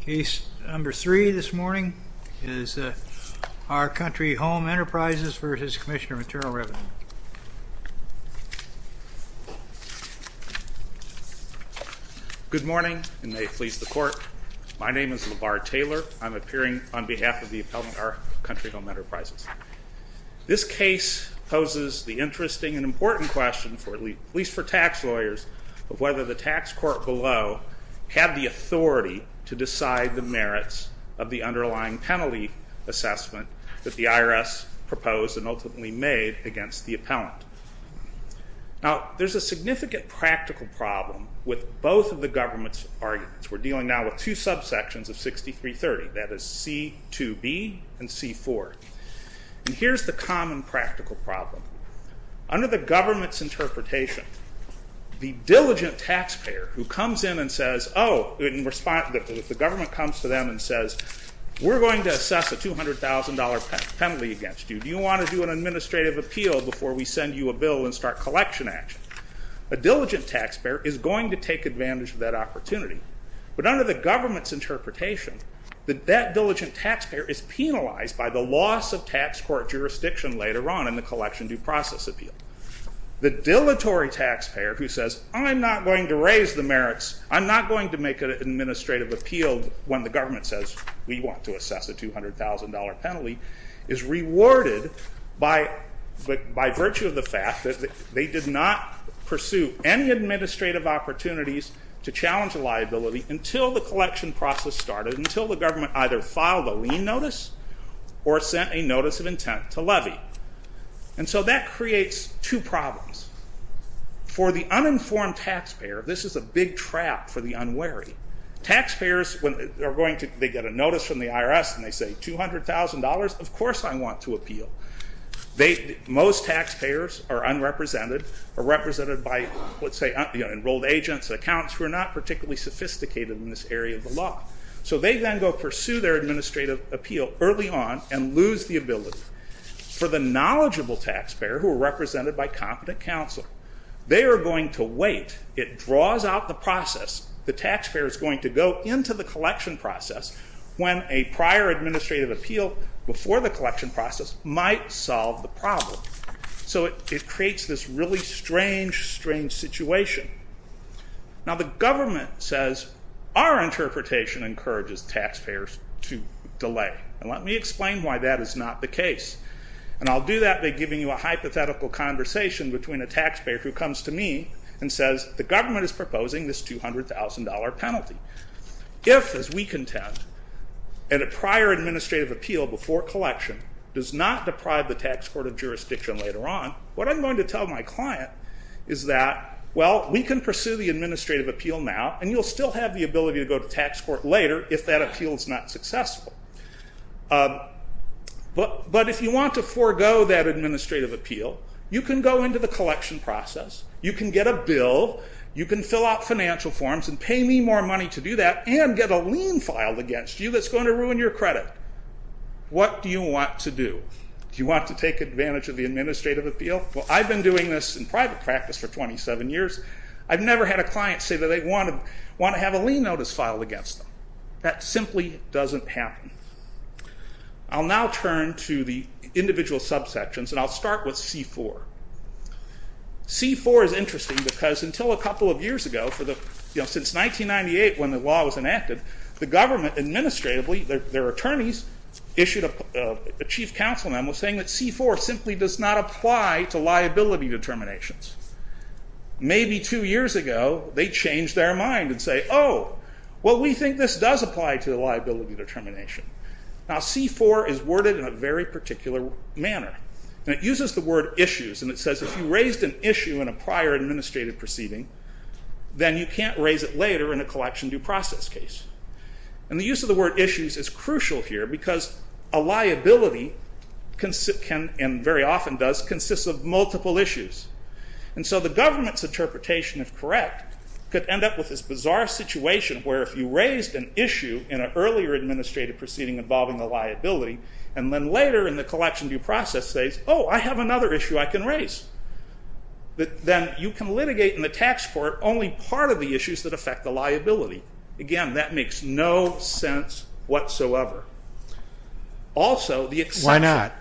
Case number three this morning is Our Country Home Enterprises v. Commissioner of Internal Revenue. Good morning, and may it please the court. My name is LeVar Taylor. I'm appearing on behalf of the appellant Our Country Home Enterprises. This case poses the interesting and important question, at least for tax lawyers, of whether the tax court below had the authority to decide the merits of the underlying penalty assessment that the IRS proposed and ultimately made against the appellant. Now there's a significant practical problem with both of the government's arguments. We're dealing now with two subsections of 6330, that is C2B and C4. Here's the common practical problem. Under the government's interpretation, the diligent taxpayer who comes in and says, oh, if the government comes to them and says, we're going to assess a $200,000 penalty against you. Do you want to do an administrative appeal before we send you a bill and start collection action? A diligent taxpayer is going to take advantage of that opportunity, but under the government's interpretation, that diligent taxpayer is penalized by the loss of tax court jurisdiction later on in the collection due process appeal. The dilatory taxpayer who says, I'm not going to raise the merits, I'm not going to make an administrative appeal when the government says we want to assess a $200,000 penalty, is rewarded by by virtue of the fact that they did not pursue any administrative opportunities to challenge a liability until the collection process started, until the government either filed a lien notice or sent a notice of intent to levy. And so that creates two problems. For the uninformed taxpayer, this is a big trap for the unwary. Taxpayers, when they get a notice from the IRS and they say $200,000, of course I want to appeal. Most taxpayers are unrepresented, are represented by, let's say, enrolled agents, accounts who are not particularly sophisticated in this area of the law. So they then go pursue their administrative appeal early on and lose the ability. For the knowledgeable taxpayer, who are represented by competent counsel, they are going to wait. It draws out the process. The taxpayer is going to go into the collection process when a prior administrative appeal before the collection process might solve the problem. So it creates this really strange, strange situation. Now the government says our interpretation encourages taxpayers to delay. And let me explain why that is not the case. And I'll do that by giving you a hypothetical conversation between a taxpayer who comes to me and says the government is proposing this $200,000 penalty. If, as we contend, in a prior administrative appeal before collection does not deprive the tax court of jurisdiction later on, what I'm going to tell my client is that, well, we can pursue the administrative appeal now, and you'll still have the ability to go to tax court later if that appeal is not successful. But if you want to forego that administrative appeal, you can go into the collection process. You can get a bill. You can fill out financial forms and pay me more money to do that and get a lien filed against you that's going to ruin your credit. What do you want to do? Do you want to take advantage of the administrative appeal? Well, I've been doing this in private practice for 27 years. I've never had a client say that they want to want to have a lien notice filed against them. That simply doesn't happen. I'll now turn to the individual subsections, and I'll start with C-4. C-4 is interesting because until a couple of years ago, since 1998 when the law was enacted, the government didn't apply to liability determinations. Maybe two years ago, they changed their mind and say, oh, well, we think this does apply to the liability determination. Now, C-4 is worded in a very particular manner. It uses the word issues, and it says if you raised an issue in a prior administrative proceeding, then you can't raise it later in a collection due process case. And the use of the word issues is crucial here because a liability, and very often does, consists of multiple issues. And so the government's interpretation, if correct, could end up with this bizarre situation where if you raised an issue in an earlier administrative proceeding involving a liability, and then later in the collection due process says, oh, I have another issue I can raise. Then you can litigate in the tax court only part of the issues that affect the liability. Again, that makes no sense whatsoever. Why not?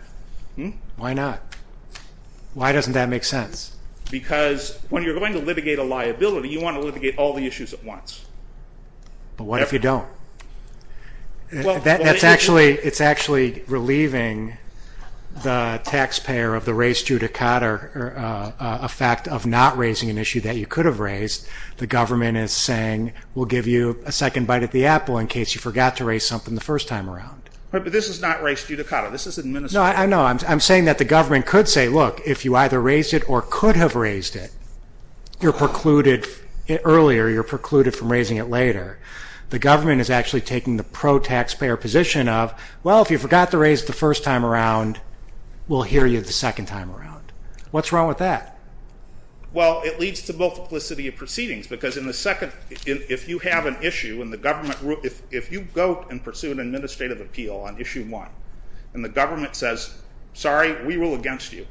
Why doesn't that make sense? Because when you're going to litigate a liability, you want to litigate all the issues at once. But what if you don't? It's actually relieving the taxpayer of the race judicata effect of not raising an issue that you could have raised. The government is saying, we'll give you a second bite at the apple in case you forgot to raise something the first time around. But this is not race judicata. This is administrative. No, I know. I'm saying that the government could say, look, if you either raised it or could have raised it, you're precluded earlier, you're precluded from raising it later. The government is actually taking the pro-taxpayer position of, well, if you forgot to raise it the first time around, we'll hear you the second time around. What's wrong with that? Well, it leads to multiplicity of proceedings. Because if you go and pursue an administrative appeal on issue one, and the government says, sorry, we rule against you.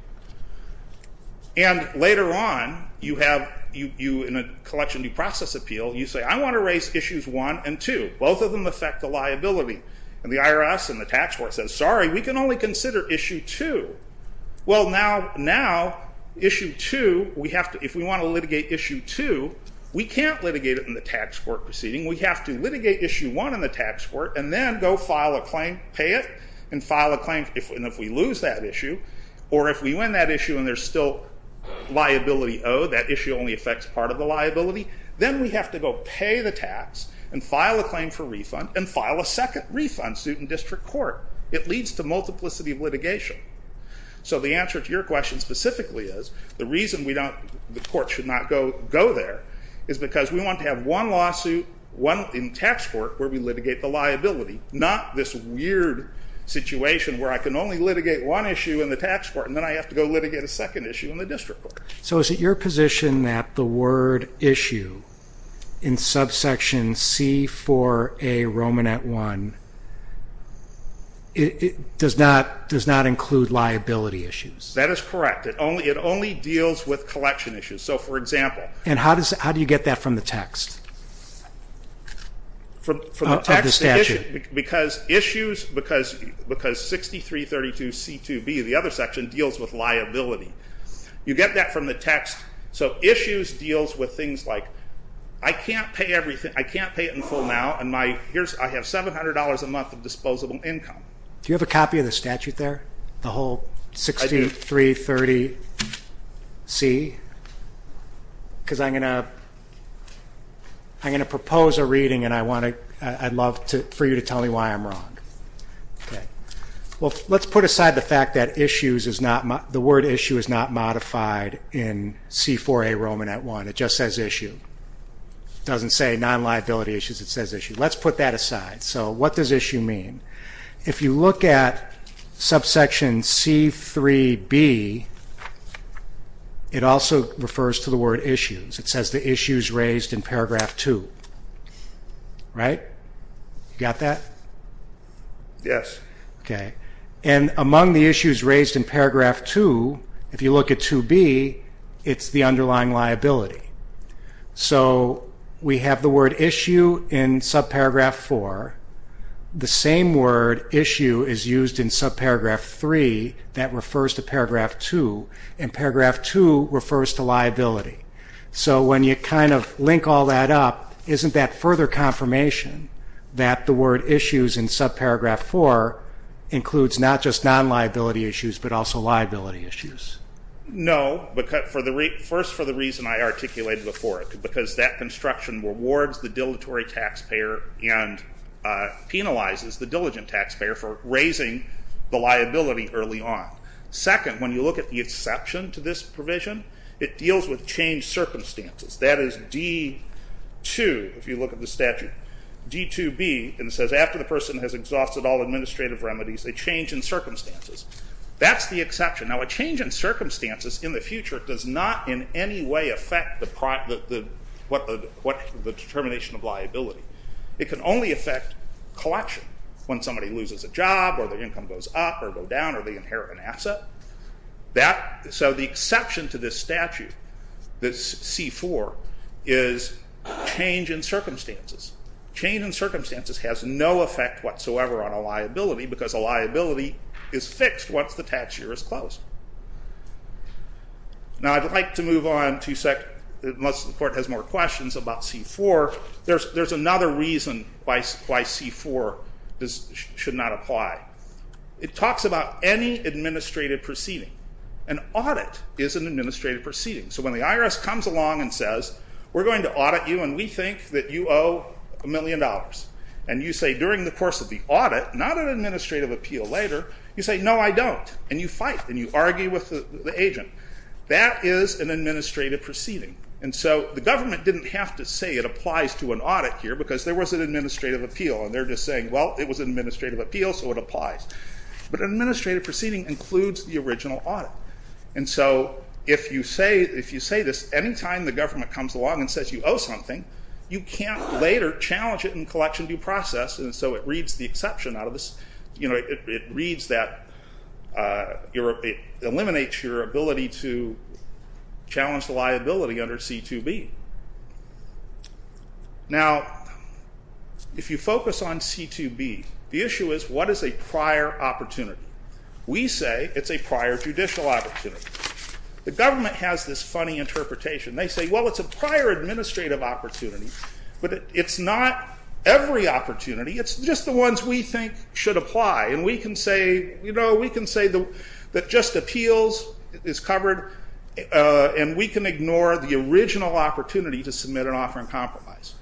And later on, in a collection due process appeal, you say, I want to raise issues one and two. Both of them affect the liability. And the IRS and the tax court says, sorry, we can only consider issue two. Well, now, if we want to litigate issue two, we can't litigate it in the tax court proceeding. We have to litigate issue one in the tax court, and then go file a claim, pay it, and file a claim. And if we lose that issue, or if we win that issue and there's still liability owed, that issue only affects part of the liability, then we have to go pay the tax, and file a claim for refund, and file a second refund suit in district court. It leads to multiplicity of litigation. So the answer to your question specifically is, the reason we don't, the court should not go there, is because we want to have one lawsuit, one in tax court, where we litigate the liability, not this weird situation where I can only litigate one issue in the tax court, and then I have to go litigate a second issue in the district court. So is it your position that the word issue in subsection C4A Romanet I, it does not include liability issues? That is correct. It only deals with collection issues. So for example. And how do you get that from the text? From the text? Of the statute. Because issues, because 6332C2B, the other section, deals with liability. You get that from the text. So issues deals with things like, I can't pay everything, I can't pay it in full now, and I have $700 a month of disposable income. Do you have a copy of the statute there? The whole 6330C? Because I'm going to propose a reading, and I'd love for you to tell me why I'm wrong. Let's put aside the fact that the word issue is not modified in C4A Romanet I. It just says issue. It doesn't say non-liability issues. It says issue. Let's put that aside. So what does issue mean? If you look at subsection C3B, it also refers to the word issues. It says the issues raised in paragraph 2. Right? You got that? Yes. Okay. And among the issues raised in paragraph 2, if you look at 2B, it's the underlying liability. So we have the word issue in subparagraph 4. The same word issue is used in subparagraph 3 that refers to paragraph 2, and paragraph 2 refers to liability. So when you kind of link all that up, isn't that further confirmation that the word issues in subparagraph 4 includes not just non-liability issues but also liability issues? No. First, for the reason I articulated before it, because that construction rewards the dilatory taxpayer and penalizes the diligent taxpayer for raising the liability early on. Second, when you look at the exception to this provision, it deals with changed circumstances. That is D2, if you look at the statute. D2B, it says after the person has exhausted all administrative remedies, a change in circumstances. That's the exception. Now, a change in circumstances in the future does not in any way affect the determination of liability. It can only affect collection. When somebody loses a job, or their income goes up or go down, or they inherit an asset. So the exception to this statute, this C4, is change in circumstances. Change in circumstances has no effect whatsoever on a liability because a liability is fixed once the tax year is closed. Now, I'd like to move on to, unless the court has more questions about C4, there's another reason why C4 should not apply. It talks about any administrative proceeding. An audit is an administrative proceeding. So when the IRS comes along and says, we're going to audit you and we think that you owe a million dollars, and you say during the course of the audit, not an administrative appeal later, you say, no, I don't, and you fight, and you argue with the agent. That is an administrative proceeding. And so the government didn't have to say it applies to an audit here because there was an administrative appeal, and they're just saying, well, it was an administrative appeal, so it applies. But an administrative proceeding includes the original audit. And so if you say this anytime the government comes along and says you owe something, you can't later challenge it in collection due process, and so it reads the exception out of this. It reads that it eliminates your ability to challenge the liability under C2B. Now, if you focus on C2B, the issue is what is a prior opportunity? We say it's a prior judicial opportunity. The government has this funny interpretation. They say, well, it's a prior administrative opportunity, but it's not every opportunity. It's just the ones we think should apply, and we can say that just appeals is covered, and we can ignore the original opportunity to submit an offer in compromise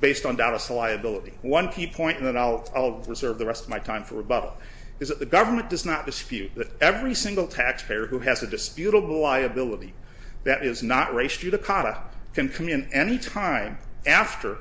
based on doubtless liability. One key point, and then I'll reserve the rest of my time for rebuttal, is that the government does not dispute that every single taxpayer who has a disputable liability that is not res judicata can come in any time after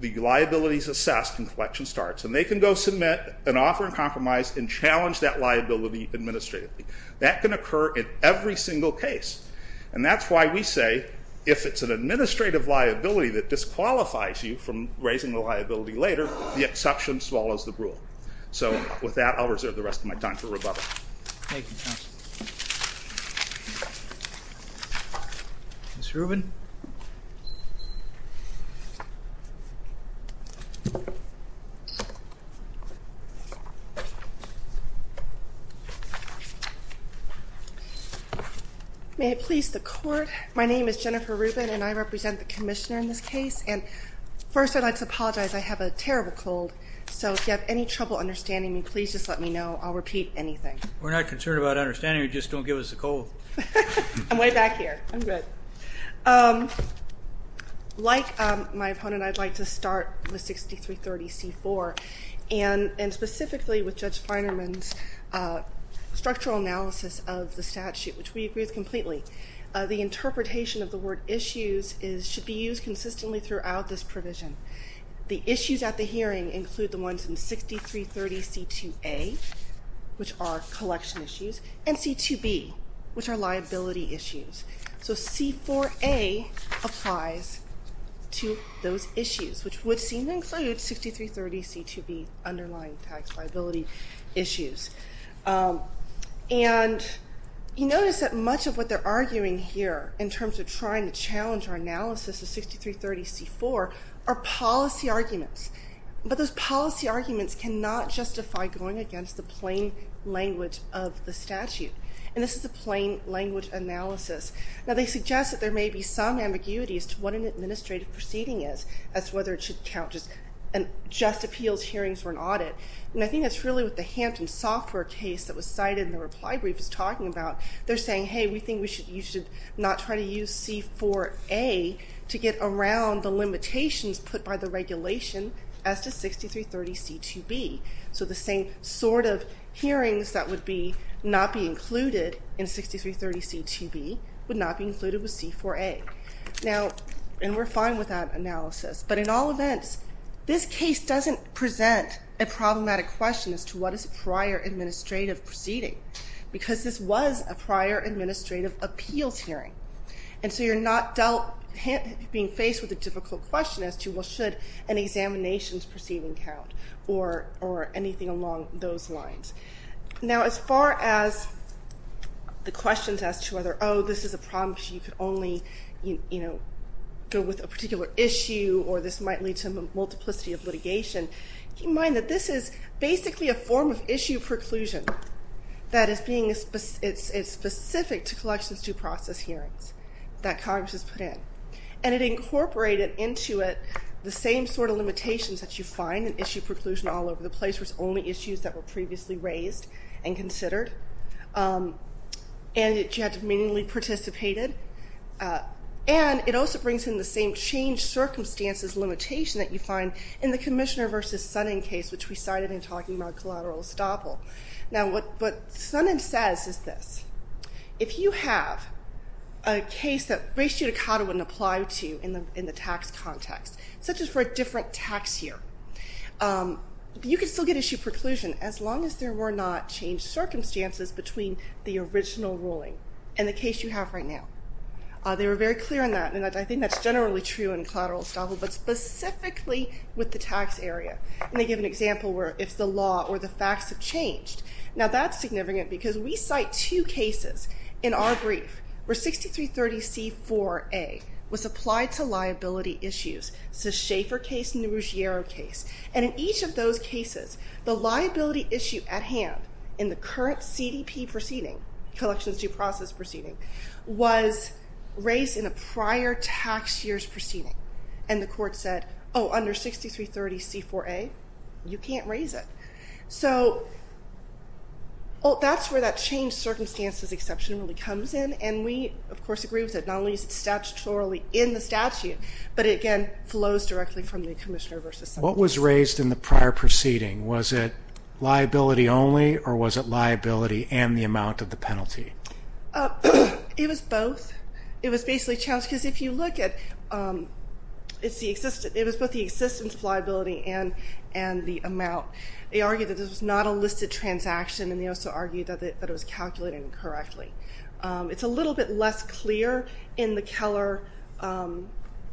the liability is assessed and collection starts, and they can go submit an offer in compromise and challenge that liability administratively. That can occur in every single case, and that's why we say if it's an administrative liability that disqualifies you from raising the liability later, the exception swallows the rule. So with that, I'll reserve the rest of my time for rebuttal. Thank you, counsel. Ms. Rubin? May it please the court, my name is Jennifer Rubin, and I represent the commissioner in this case, and first I'd like to apologize. I have a terrible cold, so if you have any trouble understanding me, please just let me know, I'll repeat anything. We're not concerned about understanding you, just don't give us a cold. I'm way back here, I'm good. Like my opponent, I'd like to start with 6330C4, and specifically with Judge Feinerman's structural analysis of the statute, which we agree with completely. The interpretation of the word issues should be used consistently throughout this provision. The issues at the hearing include the ones in 6330C2A, which are collection issues, and C2B, which are liability issues. So C4A applies to those issues, which would seem to include 6330C2B, underlying tax liability issues. And you notice that much of what they're arguing here in terms of trying to challenge our analysis of 6330C4 are policy arguments. But those policy arguments cannot justify going against the plain language of the statute. And this is a plain language analysis. Now they suggest that there may be some ambiguity as to what an administrative proceeding is, as to whether it should count just appeals hearings or an audit. And I think that's really what the Hampton Software case that was cited in the reply brief is talking about. They're saying, hey, we think you should not try to use C4A to get around the limitations put by the regulation as to 6330C2B. So the same sort of hearings that would not be included in 6330C2B would not be included with C4A. Now, and we're fine with that analysis, but in all events, this case doesn't present a problematic question as to what is a prior administrative proceeding, because this was a prior administrative appeals hearing. And so you're not dealt... being faced with a difficult question as to, well, should an examinations proceeding count or anything along those lines. Now, as far as the questions as to whether, oh, this is a problem because you could only, you know, go with a particular issue or this might lead to a multiplicity of litigation, keep in mind that this is basically a form of issue preclusion that is being... it's specific to collections due process hearings that Congress has put in. And it incorporated into it the same sort of limitations that you find in issue preclusion all over the place was only issues that were previously raised and considered, and that you had to meaningfully participate in. And it also brings in the same change circumstances limitation that you find in the Commissioner v. Sunning case, which we cited in talking about collateral estoppel. Now, what Sunning says is this. If you have a case that race judicata wouldn't apply to in the tax context, such as for a different tax year, you could still get issue preclusion as long as there were not changed circumstances between the original ruling and the case you have right now. They were very clear on that, and I think that's generally true in collateral estoppel, but specifically with the tax area. And they give an example where if the law or the facts have changed. Now, that's significant because we cite two cases in our brief where 6330C4A was applied to liability issues. It's the Schaeffer case and the Ruggiero case. And in each of those cases, the liability issue at hand in the current CDP proceeding, collections due process proceeding, was raised in a prior tax year's proceeding. And the court said, oh, under 6330C4A, you can't raise it. So, that's where that changed circumstances exception really comes in, and we, of course, agree with that. Not only is it statutorily in the statute, but it again flows directly from the commissioner versus subject. What was raised in the prior proceeding? Was it liability only, or was it liability and the amount of the penalty? It was both. It was basically challenged, because if you look at it was both the existence of liability and the amount. They argued that this was not a listed transaction, and they also argued that it was calculated incorrectly. It's a little bit less clear in the Keller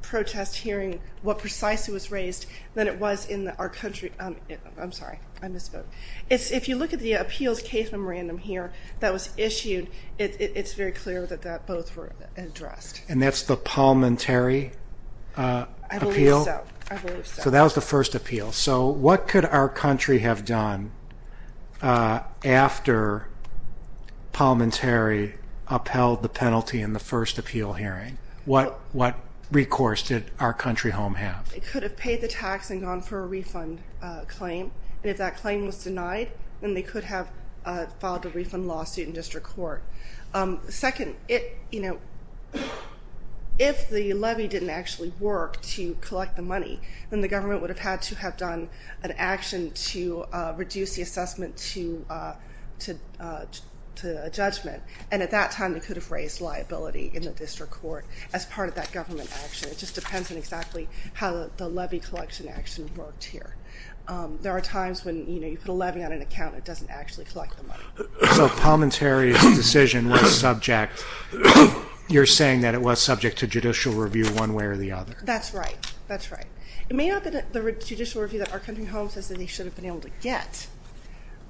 protest hearing what precisely was raised than it was in our country. I'm sorry, I misspoke. If you look at the appeals case memorandum here that was issued, it's very clear that that both were addressed. And that's the Palminteri appeal? I believe so. So that was the first appeal. So what could our country have done after Palminteri upheld the penalty in the first appeal hearing? What recourse did our country home have? It could have paid the tax and gone for a refund claim, and if that claim was denied, then they could have filed a refund lawsuit in district court. Second, if the levy didn't actually work to collect the money, then the government would have had to have done an action to reduce the assessment to judgment, and at that time they could have raised liability in the district court as part of that government action. It just depends on exactly how the levy collection action worked here. There are times when you put a levy on an account and it doesn't actually collect the money. So Palminteri's decision was subject you're saying that it was subject to judicial review one way or the other. That's right. That's right. It may not have been the judicial review that our country home says they should have been able to get,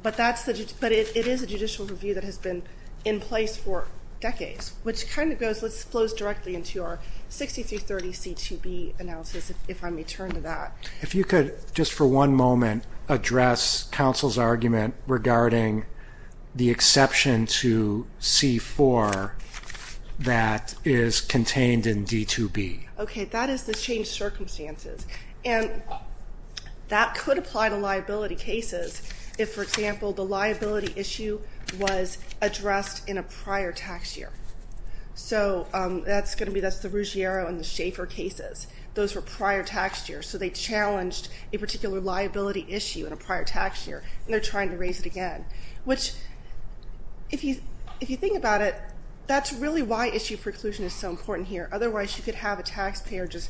but that's but it is a judicial review that has been in place for decades, which kind of goes, flows directly into our 6330 CTB analysis, if I may turn to that. If you could, just for one moment, address counsel's regarding the exception to C4 that is contained in D2B. Okay, that is the changed circumstances and that could apply to liability cases if, for example, the liability issue was addressed in a prior tax year. So that's going to be, that's the Ruggiero and the Schaefer cases. Those were prior tax years, so they challenged a particular liability issue in a prior tax year, and they're trying to raise it again, which if you think about it, that's really why issue preclusion is so important here. Otherwise, you could have a taxpayer just,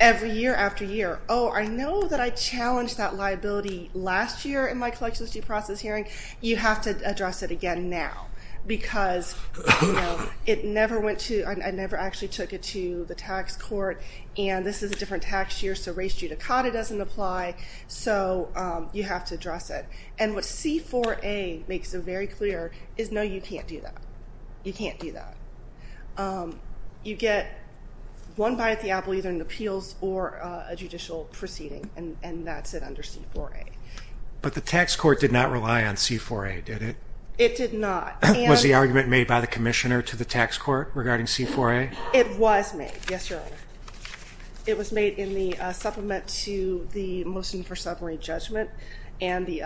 every year after year, oh, I know that I challenged that liability last year in my collection of due process hearing. You have to address it again now because, you know, it never went to, I never actually took it to the tax court, and this is a different tax year, so race judicata doesn't apply, so you have to address it. And what C4A makes it very clear is no, you can't do that. You can't do that. You get one bite at the apple, either in appeals or a judicial proceeding, and that's it under C4A. But the tax court did not rely on C4A, did it? It did not. Was the argument made by the commissioner to the tax court regarding C4A? It was made, yes, Your Honor. It was made in the supplement to the motion for summary judgment, and the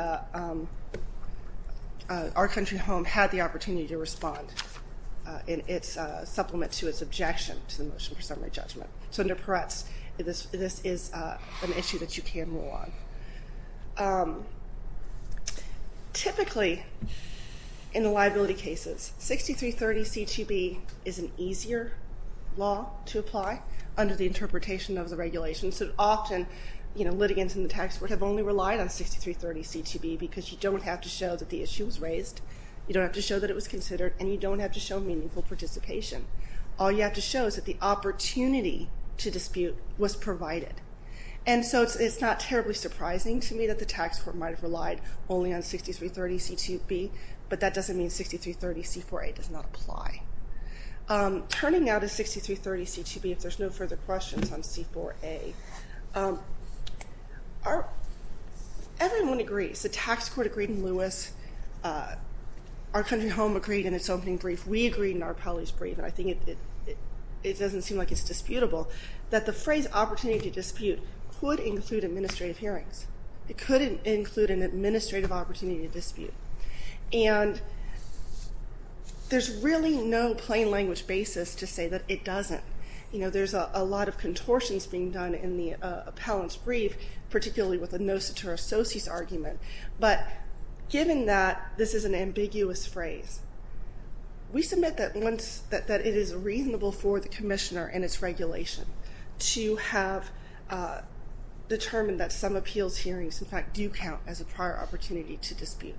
Our Country Home had the opportunity to respond in its supplement to its objection to the motion for summary judgment. So under Peretz this is an issue that you can rule on. Typically, in the liability cases, 6330 C2B is an easier law to apply under the interpretation of the regulations. Often, litigants in the tax court have only relied on 6330 C2B because you don't have to show that the issue was raised, you don't have to show that it was considered, and you don't have to show meaningful participation. All you have to show is that the opportunity to dispute was provided. And so it's not terribly surprising to me that the tax court might have relied only on 6330 C2B, but that doesn't mean 6330 C4A does not apply. Turning now to 6330 C2B, if there's no further questions on C4A. Everyone agrees. The tax court agreed in Lewis. Our Country Home agreed in its opening brief. We agreed in our appellate's brief. I think it doesn't seem like it's disputable that the phrase opportunity to dispute could include administrative hearings. It could include an administrative opportunity to dispute. And there's really no plain language basis to say that it doesn't. You know, there's a lot of contortions being done in the appellate's brief, particularly with the no-satire associates argument. But given that this is an ambiguous phrase, we submit that once that it is reasonable for the commissioner and its regulation to have determined that some appeals hearings in fact do count as a prior opportunity to dispute.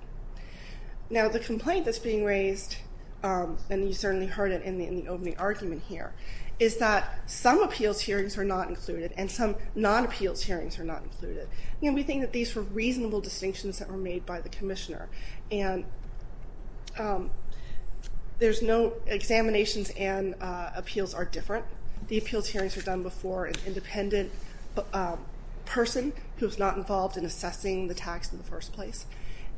Now the complaint that's being raised, and you certainly heard it in the opening argument here, is that some appeals hearings are not included, and some non-appeals hearings are not included. We think that these were reasonable distinctions that were made by the commissioner. There's no examinations and appeals are different. The appeals hearings are done before an independent person who's not involved in assessing the tax in the first place.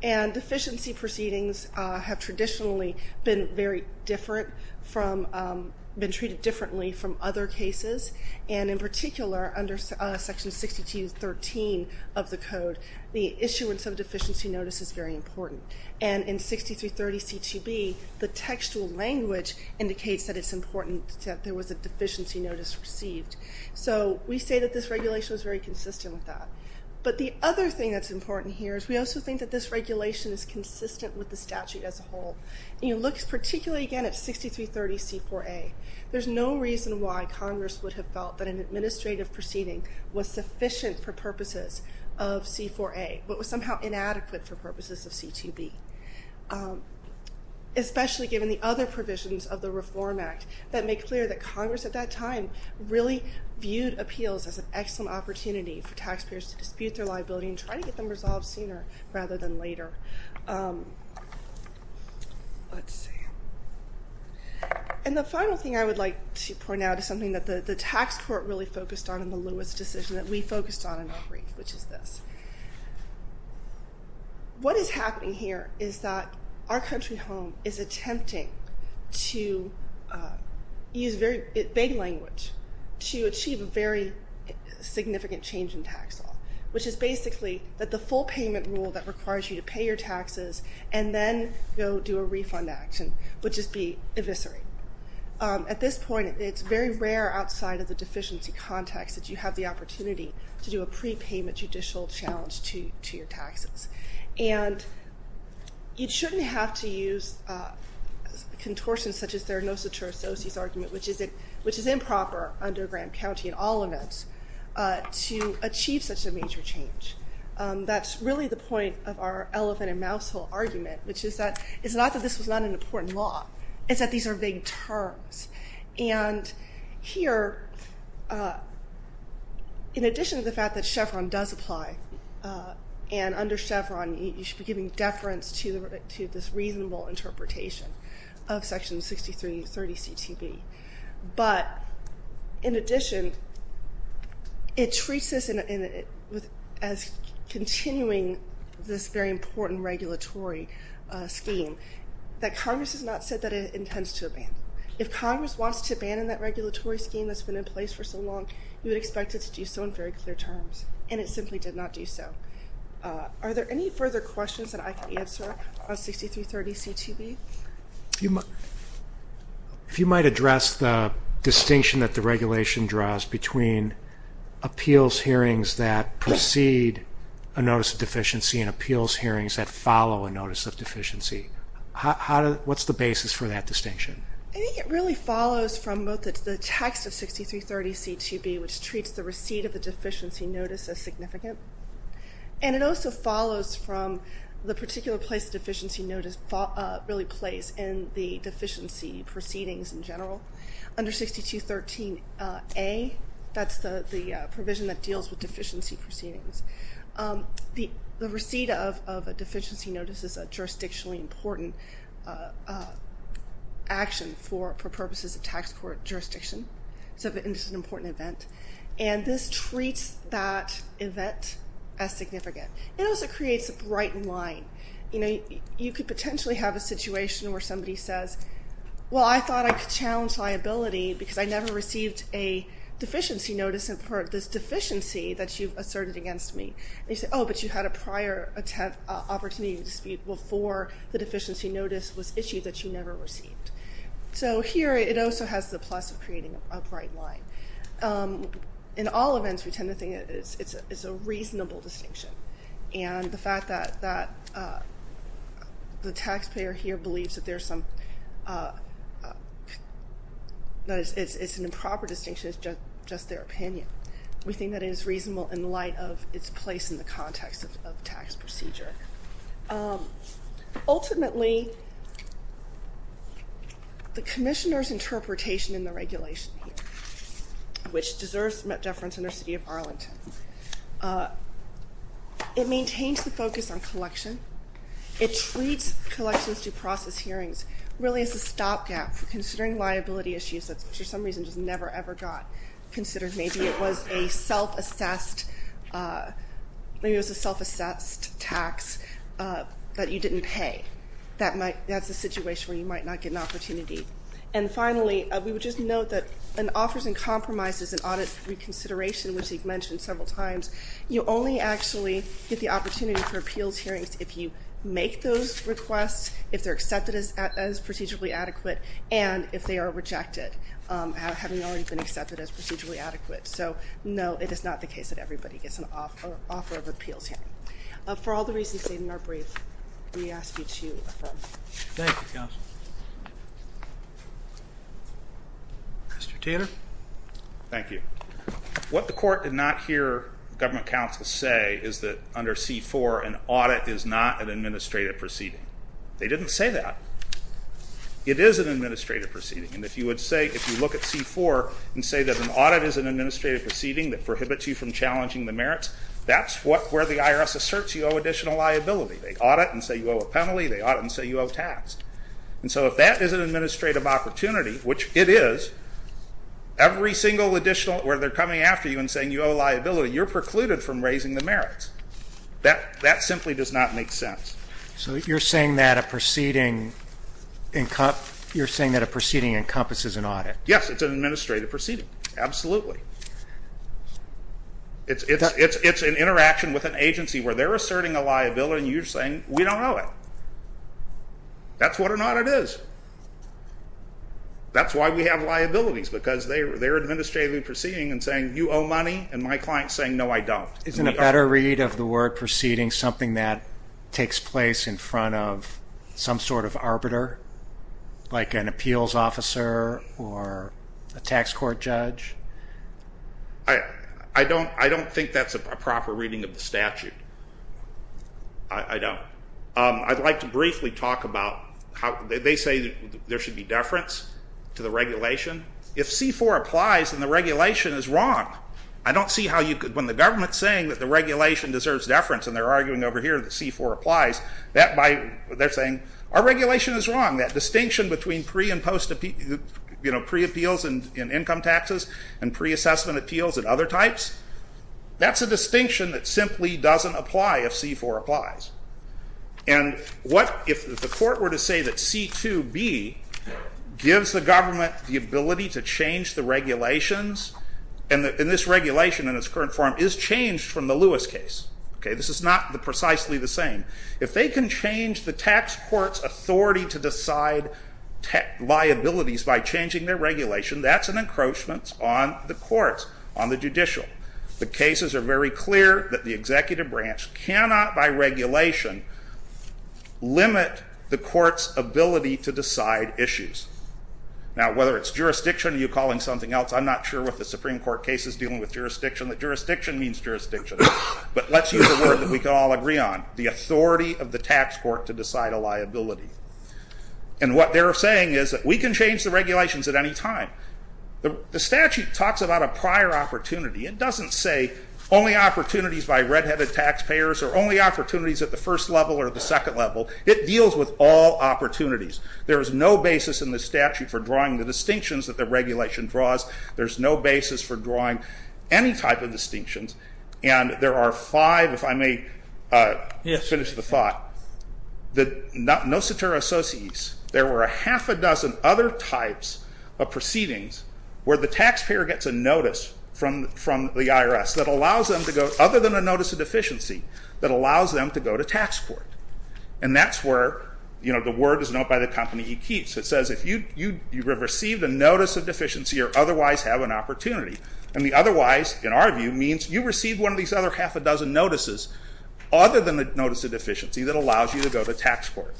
Deficiency proceedings have traditionally been very different from, been treated differently from other cases and in particular under section 62.13 of the code, the issuance of a deficiency notice is very important. In 63.30 CTB, the textual language indicates that it's important that there was a deficiency notice received. We say that this regulation was very consistent with that, but the other thing that's important here is we also think that this regulation is consistent with the statute as a whole. And you look particularly again at 63.30 C4A. There's no reason why Congress would have felt that an administrative proceeding was sufficient for purposes of C4A, but was somehow inadequate for purposes of C2B. Especially given the other provisions of the Reform Act that make clear that Congress at that time really viewed appeals as an excellent opportunity for taxpayers to dispute their liability and try to get them resolved sooner rather than later. And the final thing I would like to point out is something that the tax court really focused on in the Lewis decision that we focused on in our brief, which is this. What is happening here is that our country home is attempting to use very big language to achieve a very significant change in tax law, which is basically that the full payment rule that requires you to pay your taxes and then go do a refund action would just be eviscerate. At this point, it's very rare outside of the deficiency context that you have the opportunity to do a prepayment judicial challenge to your taxes. And you shouldn't have to use contortions such as their docitor-associate argument, which is improper under Graham County and all of it, to achieve such a major change. That's really the point of our elephant and mousehole argument, which is that it's not that this was not an important law. It's that these are vague terms. And here in addition to the fact that Chevron does apply and under Chevron you should be giving deference to this reasonable interpretation of Section 6330 CTV. But in addition it treats this as continuing this very important regulatory scheme that Congress has not said that it intends to abandon. If Congress wants to abandon that regulatory scheme that's been in place for so long, you would expect it to do so in very clear terms. And it simply did not do so. Are there any further questions that I can answer on 6330 CTV? If you might address the distinction that the regulation draws between appeals hearings that precede a notice of deficiency and appeals hearings that follow a notice of deficiency. What's the basis for that distinction? I think it really follows from both the text of 6330 CTV, which treats the receipt of the deficiency notice as significant and it also follows from the particular place the deficiency notice really plays in the deficiency proceedings in general. Under 6213 A, that's the provision that deals with deficiency proceedings. The receipt of a deficiency notice is a jurisdictionally important action for purposes of tax court jurisdiction. So it's an important event. And this treats that event as significant. It also creates a bright line. You could potentially have a situation where somebody says, well I thought I could challenge liability because I never received a deficiency notice in part, this deficiency that you've asserted against me. And you say, oh but you had a prior opportunity to dispute before the deficiency notice was issued that you never received. So here it also has the plus of creating a bright line. In all events we tend to think it's a reasonable distinction. And the fact that the taxpayer here believes that there's some that it's an improper distinction is just their opinion. We think that it is reasonable in light of its place in the context of tax procedure. Ultimately the Commissioner's interpretation in the regulation which deserves deference in our city of Arlington it maintains the focus on collection it treats collections due process hearings really as a stop gap for considering liability issues that for some reason just never ever got considered. Maybe it was a self-assessed maybe it was a self-assessed tax that you didn't pay. That's a situation where you might not get an opportunity. And finally we would just note that an offers and compromises and audit reconsideration which you've mentioned several times you only actually get the opportunity for appeals hearings if you make those requests if they're accepted as procedurally adequate and if they are rejected having already been accepted as procedurally adequate. So no it is not the case that everybody gets an offer of appeals hearing. For all the reasons stated in our brief we ask you to affirm. Thank you counsel. Mr. Taylor. Thank you. What the court did not hear government counsel say is that under C-4 an audit is not an administrative proceeding. They didn't say that. It is an administrative proceeding and if you would say if you look at C-4 and say that an audit is an administrative proceeding that prohibits you from challenging the merits that's where the IRS asserts you owe additional liability. They audit and say you owe a penalty. They audit and say you owe tax. And so if that is an administrative opportunity which it is every single additional where they're coming after you and saying you owe liability you're precluded from raising the merits. That simply does not make sense. So you're saying that a proceeding you're saying that a proceeding encompasses an audit. Yes it's an administrative proceeding. Absolutely. It's an interaction with an agency where they're they don't know it. That's what an audit is. That's why we have liabilities because they're administrative proceeding and saying you owe money and my client saying no I don't. Isn't a better read of the word proceeding something that takes place in front of some sort of arbiter like an appeals officer or a tax court judge? I don't think that's a proper reading of the statute. I don't. I'd like to briefly talk about how they say there should be deference to the regulation. If C-4 applies then the regulation is wrong. I don't see how when the government is saying that the regulation deserves deference and they're arguing over here that C-4 applies they're saying our regulation is wrong. That distinction between pre-appeals and income taxes and pre-assessment appeals and other types that's a distinction that simply doesn't apply if C-4 applies. If the court were to say that C-2b gives the government the ability to change the regulations and this regulation in its current form is changed from the Lewis case. This is not precisely the same. If they can change the tax court's authority to decide liabilities by changing their regulation that's an encroachment on the courts, on the judicial. The cases are very clear that the executive branch cannot by regulation limit the court's ability to decide issues. Now whether it's jurisdiction or you're calling something else I'm not sure with the Supreme Court cases dealing with jurisdiction that jurisdiction means jurisdiction but let's use a word that we can all agree on. The authority of the tax court to decide a liability. And what they're saying is that we can change the regulations at any time. The statute talks about a prior opportunity. It doesn't say only opportunities by red headed tax payers or only opportunities at the first level or the second level. It deals with all opportunities. There is no basis in the statute for drawing the distinctions that the regulation draws. There's no basis for drawing any type of distinctions and there are five if I may finish the thought. The no cetera associes. There were a half a dozen other types of proceedings where the tax payer gets a notice from the IRS that allows them to go other than a notice of deficiency that allows them to go to tax court. And that's where the word is known by the company it keeps. It says if you received a notice of deficiency or otherwise have an opportunity. And the otherwise in our view means you received one of these other half a dozen notices other than a notice of deficiency that allows you to go to tax court.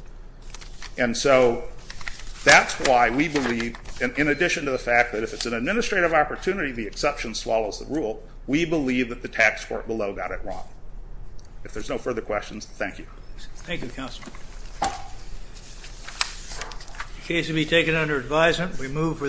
And so that's why we believe in addition to the fact that if it's an administrative opportunity the exception swallows the rule we believe that the tax court below got it wrong. If there's no further questions, thank you. Thank you counsel. The case will be taken under advisement. We move for the